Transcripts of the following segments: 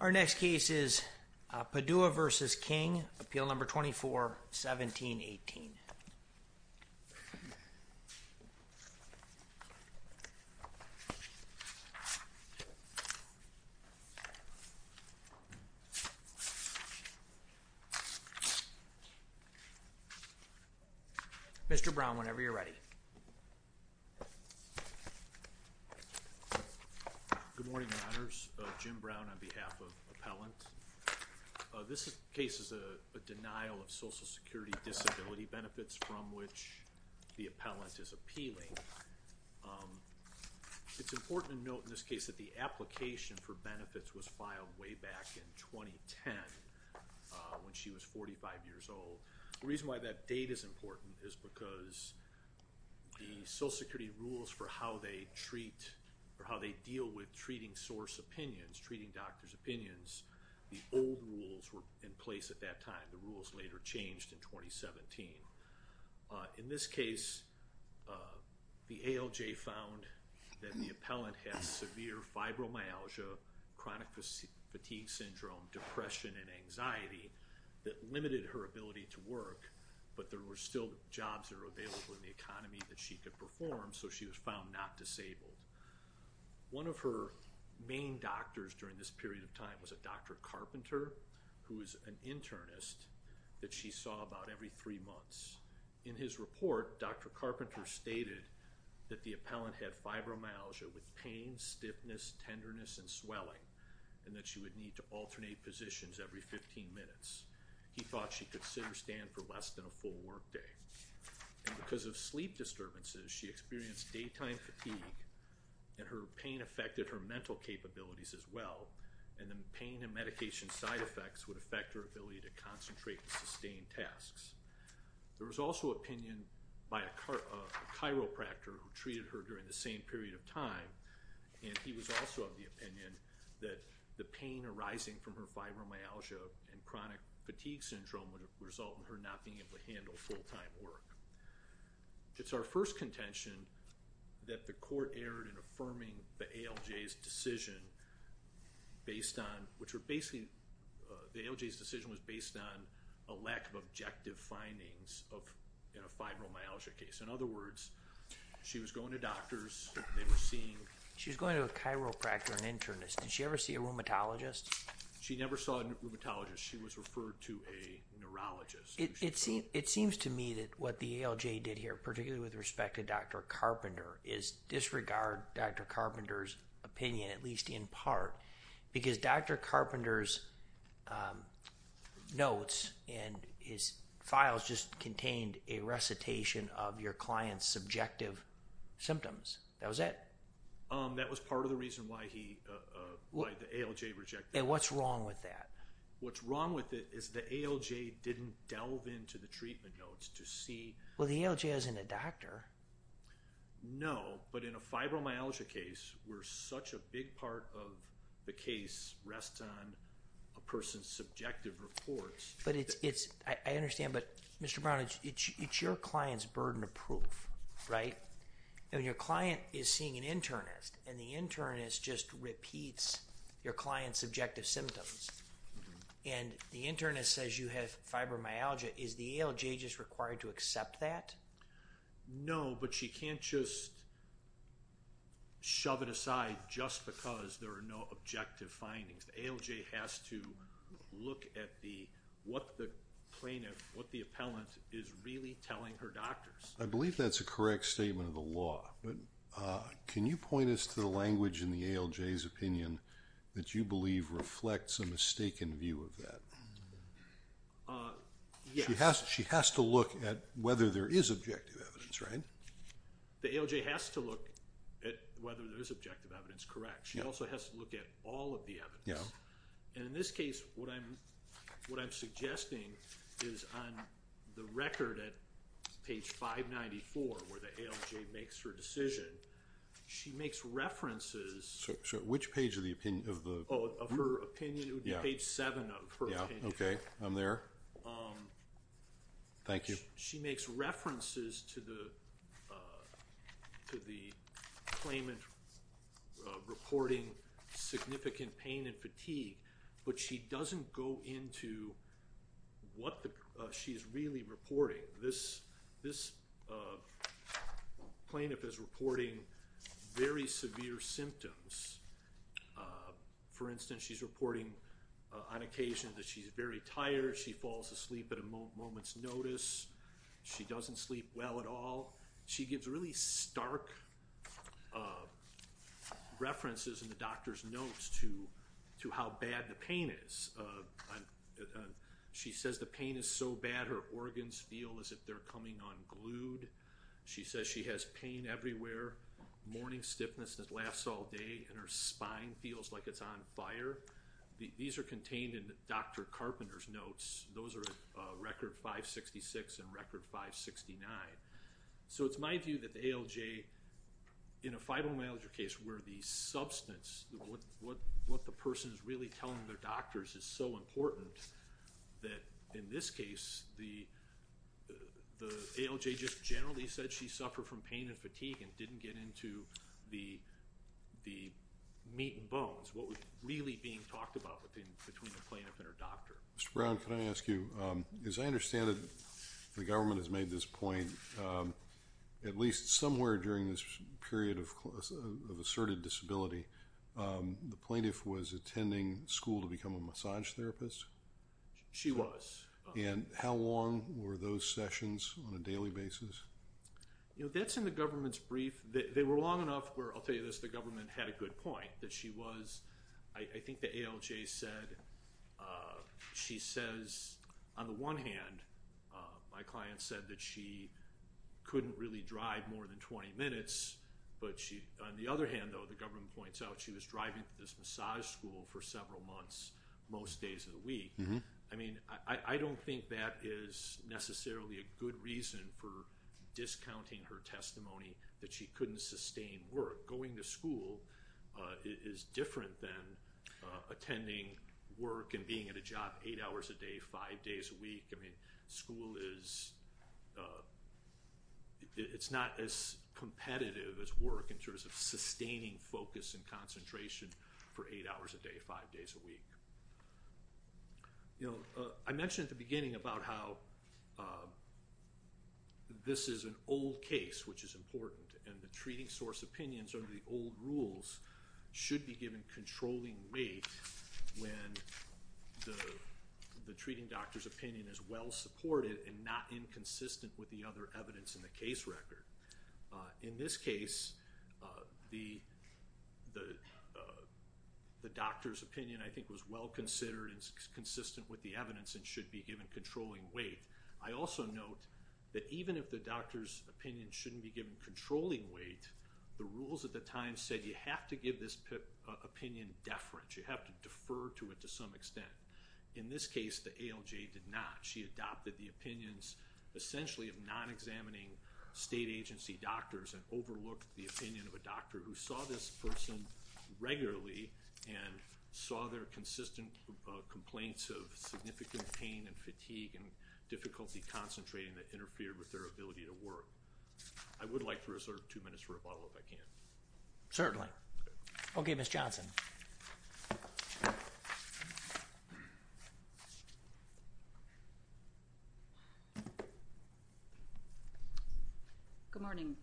Our next case is Padua v. King, Appeal No. 24-1718. Mr. Brown, whenever you're ready. Good morning, Your Honors. Jim Brown on behalf of Appellant. This case is a denial of Social Security Disability benefits from which the appellant is appealing. It's important to note in this case that the application for benefits was filed way back in 2010 when she was 45 years old. The reason why that date is important is because the Social Security rules for how they treat, or how they deal with treating source opinions, treating doctor's opinions, the old rules were in place at that time. The rules later changed in 2017. In this case, the ALJ found that the appellant has severe fibromyalgia, chronic fatigue syndrome, depression, and anxiety that limited her ability to work, but there were still jobs that were available in the economy that she could perform, so she was found not disabled. One of her main doctors during this period of time was a Dr. Carpenter, who was an internist that she saw about every three months. In his report, Dr. Carpenter stated that the appellant had fibromyalgia with pain, stiffness, tenderness, and swelling, and that she would need to alternate positions every 15 minutes. He thought she could sit or stand for less than a full work day. And because of sleep disturbances, she experienced daytime fatigue, and her pain affected her mental capabilities as well, and the pain and medication side effects would affect her ability to concentrate and sustain tasks. There was also opinion by a chiropractor who treated her during the same period of time, and he was also of the opinion that the pain arising from her fibromyalgia and chronic fatigue syndrome would result in her not being able to handle full-time work. It's our first contention that the court erred in affirming the ALJ's decision based on, which were basically, the ALJ's decision was based on a lack of objective findings in a fibromyalgia case. In other words, she was going to doctors, they were seeing... She was going to a chiropractor, an internist. Did she ever see a rheumatologist? She never saw a rheumatologist. She was referred to a neurologist. It seems to me that what the ALJ did here, particularly with respect to Dr. Carpenter, is disregard Dr. Carpenter's opinion, at least in part, because Dr. Carpenter's notes and his files just contained a recitation of your client's subjective symptoms. That was it. That was part of the reason why the ALJ rejected it. And what's wrong with that? What's wrong with it is the ALJ didn't delve into the treatment notes to see... Well, the ALJ isn't a doctor. No, but in a fibromyalgia case, where such a big part of the case rests on a person's subjective reports... I understand, but Mr. Brown, it's your client's burden of proof, right? And your client is seeing an internist, and the internist just repeats your client's subjective symptoms. And the internist says you have fibromyalgia. Is the ALJ just required to accept that? No, but she can't just shove it aside just because there are no objective findings. The ALJ has to look at what the plaintiff, what the appellant, is really telling her doctors. I believe that's a correct statement of the law, but can you point us to the language in the ALJ's opinion that you believe reflects a mistaken view of that? She has to look at whether there is objective evidence, right? The ALJ has to look at whether there is objective evidence, correct. She also has to look at all of the evidence. And in this case, what I'm suggesting is on the record at page 594, where the ALJ makes her decision, she makes references... Which page of the opinion? Of her opinion, it would be page 7 of her opinion. Okay, I'm there. Thank you. She makes references to the claimant reporting significant pain and fatigue, but she doesn't go into what she's really reporting. This plaintiff is reporting very severe symptoms. For instance, she's reporting on occasion that she's very tired, she falls asleep at a moment's notice, she doesn't sleep well at all. She gives really stark references in the doctor's notes to how bad the pain is. She says the pain is so bad her organs feel as if they're coming unglued. She says she has pain everywhere, morning stiffness that lasts all day, and her spine feels like it's on fire. These are contained in Dr. Carpenter's notes. Those are at record 566 and record 569. So it's my view that the ALJ, in a Fibromyalgia case, where the substance, what the person is really telling their doctors is so important, that in this case the ALJ just generally said she suffered from pain and fatigue and didn't get into the meat and bones, what was really being talked about between the plaintiff and her doctor. Mr. Brown, can I ask you, as I understand it, the government has made this point, at least somewhere during this period of asserted disability, the plaintiff was attending school to become a massage therapist? She was. And how long were those sessions on a daily basis? That's in the government's brief. They were long enough where, I'll tell you this, the government had a good point, that she was, I think the ALJ said, she says, on the one hand, my client said that she couldn't really drive more than 20 minutes, but on the other hand, though, the government points out, she was driving to this massage school for several months most days of the week. I mean, I don't think that is necessarily a good reason for discounting her testimony that she couldn't sustain work. Going to school is different than attending work and being at a job eight hours a day, five days a week. I mean, school is not as competitive as work in terms of sustaining focus and concentration for eight hours a day, five days a week. I mentioned at the beginning about how this is an old case, which is important, and the treating source opinions under the old rules should be given controlling weight when the treating doctor's opinion is well supported and not inconsistent with the other evidence in the case record. In this case, the doctor's opinion, I think, was well considered and consistent with the evidence and should be given controlling weight. I also note that even if the doctor's opinion shouldn't be given controlling weight, the rules at the time said you have to give this opinion deference. You have to defer to it to some extent. In this case, the ALJ did not. She adopted the opinions essentially of non-examining state agency doctors and overlooked the opinion of a doctor who saw this person regularly and saw their consistent complaints of significant pain and fatigue and difficulty concentrating that interfered with their ability to work. I would like to reserve two minutes for a follow-up if I can. Certainly. Okay, Ms. Johnson. Good morning.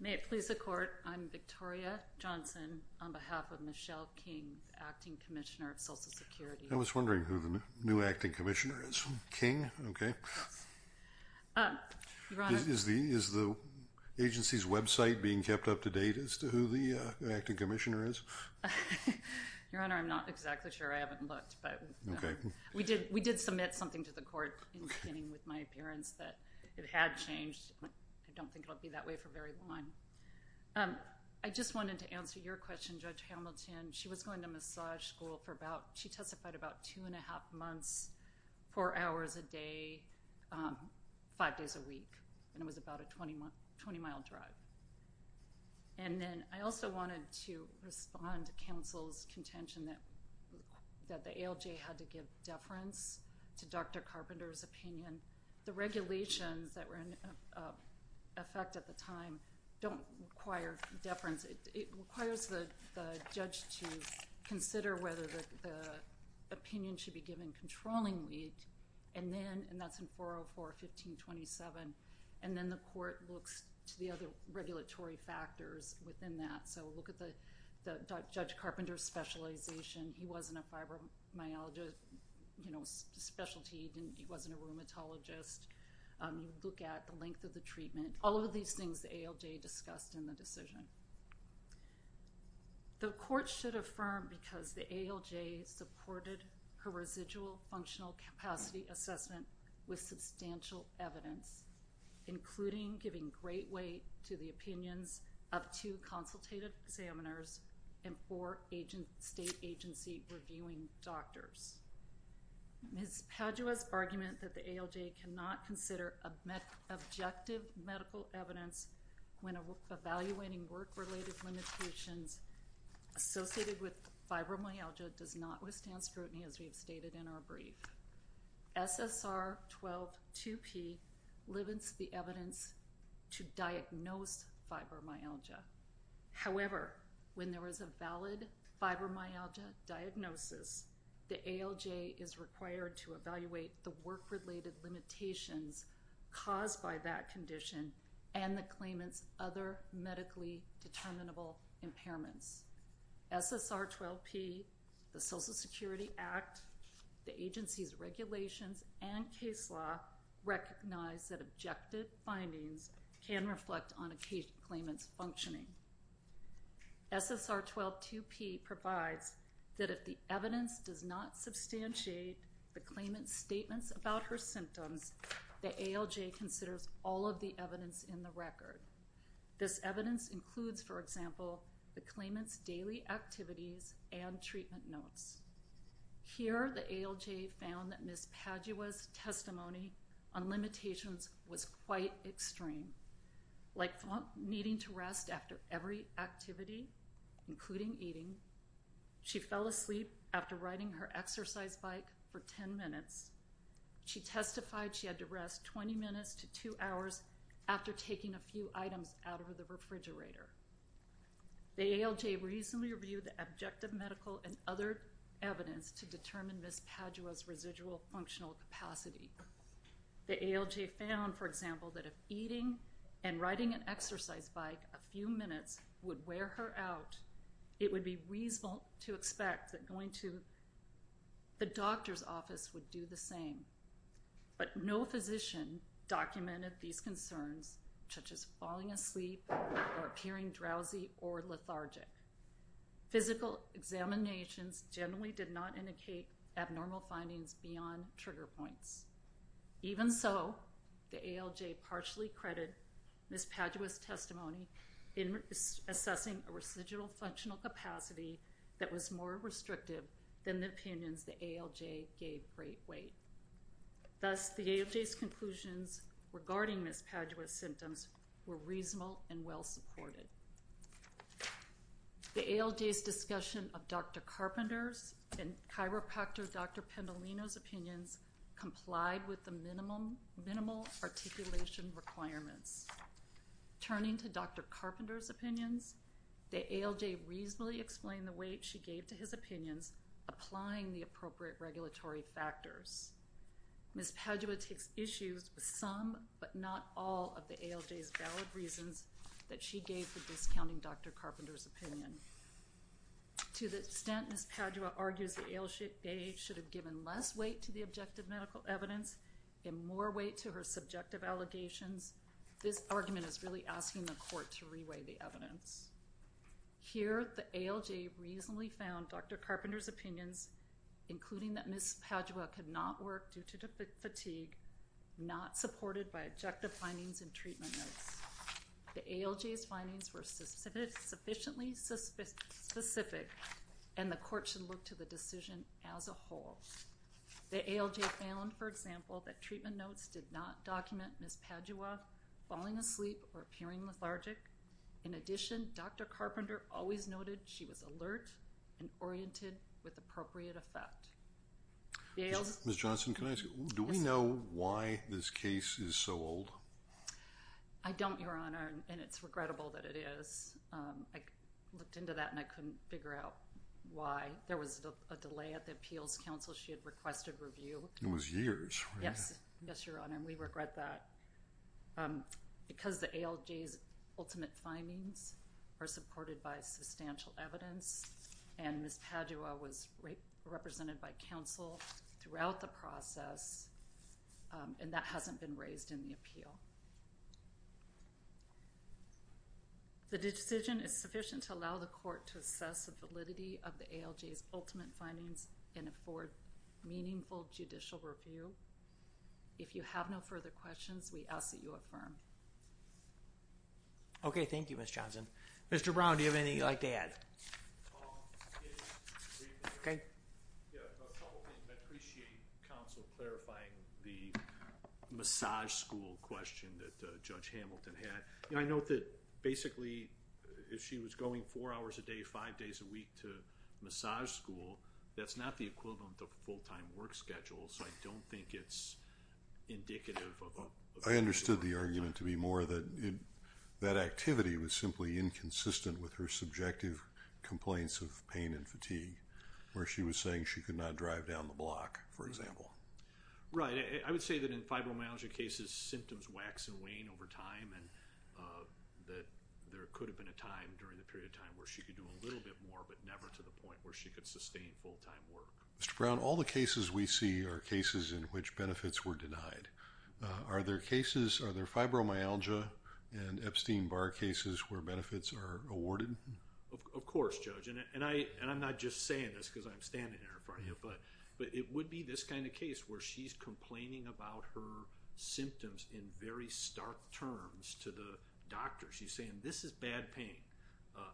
May it please the Court, I'm Victoria Johnson on behalf of Michelle King, Acting Commissioner of Social Security. I was wondering who the new Acting Commissioner is. King? Okay. Your Honor. Is the agency's website being kept up to date as to who the Acting Commissioner is? Your Honor, I'm not exactly sure. I haven't looked. Okay. We did submit something to the Court in the beginning with my appearance that it had changed. I don't think it will be that way for very long. I just wanted to answer your question, Judge Hamilton. She was going to massage school for about, she testified about two and a half months, four hours a day, five days a week, and it was about a 20-mile drive. And then I also wanted to respond to counsel's contention that the ALJ had to give deference to Dr. Carpenter's opinion. The regulations that were in effect at the time don't require deference. It requires the judge to consider whether the opinion should be given controlling weight, and that's in 404-1527. And then the Court looks to the other regulatory factors within that. So look at Judge Carpenter's specialization. He wasn't a fibromyalgia specialty. He wasn't a rheumatologist. Look at the length of the treatment. All of these things the ALJ discussed in the decision. The Court should affirm because the ALJ supported her residual functional capacity assessment with substantial evidence, including giving great weight to the opinions of two consultative examiners and four state agency reviewing doctors. Ms. Padua's argument that the ALJ cannot consider objective medical evidence when evaluating work-related limitations associated with fibromyalgia does not withstand scrutiny, as we have stated in our brief. SSR 12-2P limits the evidence to diagnose fibromyalgia. However, when there is a valid fibromyalgia diagnosis, the ALJ is required to evaluate the work-related limitations caused by that condition and the claimant's other medically determinable impairments. SSR 12-P, the Social Security Act, the agency's regulations, and case law recognize that objective findings can reflect on a claimant's functioning. SSR 12-2P provides that if the evidence does not substantiate the claimant's statements about her symptoms, the ALJ considers all of the evidence in the record. This evidence includes, for example, the claimant's daily activities and treatment notes. Here, the ALJ found that Ms. Padua's testimony on limitations was quite extreme, like needing to rest after every activity, including eating. She fell asleep after riding her exercise bike for 10 minutes. She testified she had to rest 20 minutes to 2 hours after taking a few items out of the refrigerator. The ALJ reasonably reviewed the objective medical and other evidence to determine Ms. Padua's residual functional capacity. The ALJ found, for example, that if eating and riding an exercise bike a few minutes would wear her out, it would be reasonable to expect that going to the doctor's office would do the same. But no physician documented these concerns, such as falling asleep or appearing drowsy or lethargic. Physical examinations generally did not indicate abnormal findings beyond trigger points. Even so, the ALJ partially credited Ms. Padua's testimony in assessing a residual functional capacity that was more restrictive than the opinions the ALJ gave great weight. Thus, the ALJ's conclusions regarding Ms. Padua's symptoms were reasonable and well-supported. The ALJ's discussion of Dr. Carpenter's and chiropractor Dr. Pendolino's opinions complied with the minimal articulation requirements. Turning to Dr. Carpenter's opinions, the ALJ reasonably explained the weight she gave to his opinions, applying the appropriate regulatory factors. Ms. Padua takes issue with some, but not all, of the ALJ's valid reasons that she gave for discounting Dr. Carpenter's opinion. To the extent Ms. Padua argues the ALJ should have given less weight to the objective medical evidence and more weight to her subjective allegations, this argument is really asking the court to re-weigh the evidence. Here, the ALJ reasonably found Dr. Carpenter's opinions, including that Ms. Padua could not work due to fatigue, not supported by objective findings and treatment notes. The ALJ's findings were sufficiently specific and the court should look to the decision as a whole. The ALJ found, for example, that treatment notes did not document Ms. Padua falling asleep or appearing lethargic. In addition, Dr. Carpenter always noted she was alert and oriented with appropriate effect. Ms. Johnson, do we know why this case is so old? I don't, Your Honor, and it's regrettable that it is. I looked into that and I couldn't figure out why. There was a delay at the appeals council. She had requested review. It was years. Yes, Your Honor, and we regret that. Because the ALJ's ultimate findings are supported by substantial evidence and Ms. Padua was represented by counsel throughout the process, and that hasn't been raised in the appeal. The decision is sufficient to allow the court to assess the validity of the ALJ's ultimate findings and afford meaningful judicial review. If you have no further questions, we ask that you affirm. Okay, thank you, Ms. Johnson. Mr. Brown, do you have anything you'd like to add? I appreciate counsel clarifying the massage school question that Judge Hamilton had. I note that basically if she was going four hours a day, five days a week to massage school, that's not the equivalent of a full-time work schedule, so I don't think it's indicative of a full-time job. I understood the argument to be more that that activity was simply inconsistent with her subjective complaints of pain and fatigue, where she was saying she could not drive down the block, for example. Right. I would say that in fibromyalgia cases, symptoms wax and wane over time and that there could have been a time during the period of time where she could do a little bit more but never to the point where she could sustain full-time work. Mr. Brown, all the cases we see are cases in which benefits were denied. Are there fibromyalgia and Epstein-Barr cases where benefits are awarded? Of course, Judge, and I'm not just saying this because I'm standing here in front of you, but it would be this kind of case where she's complaining about her symptoms in very stark terms to the doctor. She's saying, this is bad pain.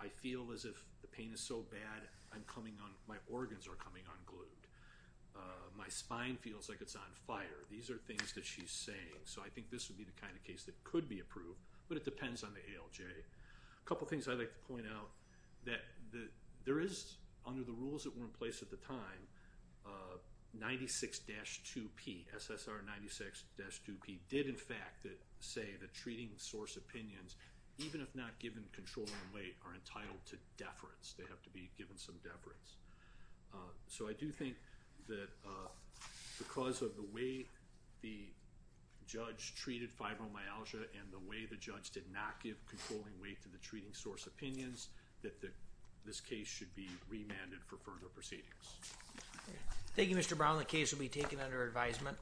I feel as if the pain is so bad my organs are coming unglued. My spine feels like it's on fire. These are things that she's saying, so I think this would be the kind of case that could be approved, but it depends on the ALJ. A couple of things I'd like to point out. There is, under the rules that were in place at the time, 96-2P, SSR 96-2P, did in fact say that treating source opinions, even if not given control and weight, are entitled to deference. They have to be given some deference. So I do think that because of the way the judge treated fibromyalgia and the way the judge did not give controlling weight to the treating source opinions, that this case should be remanded for further proceedings. Thank you, Mr. Brown. The case will be taken under advisement.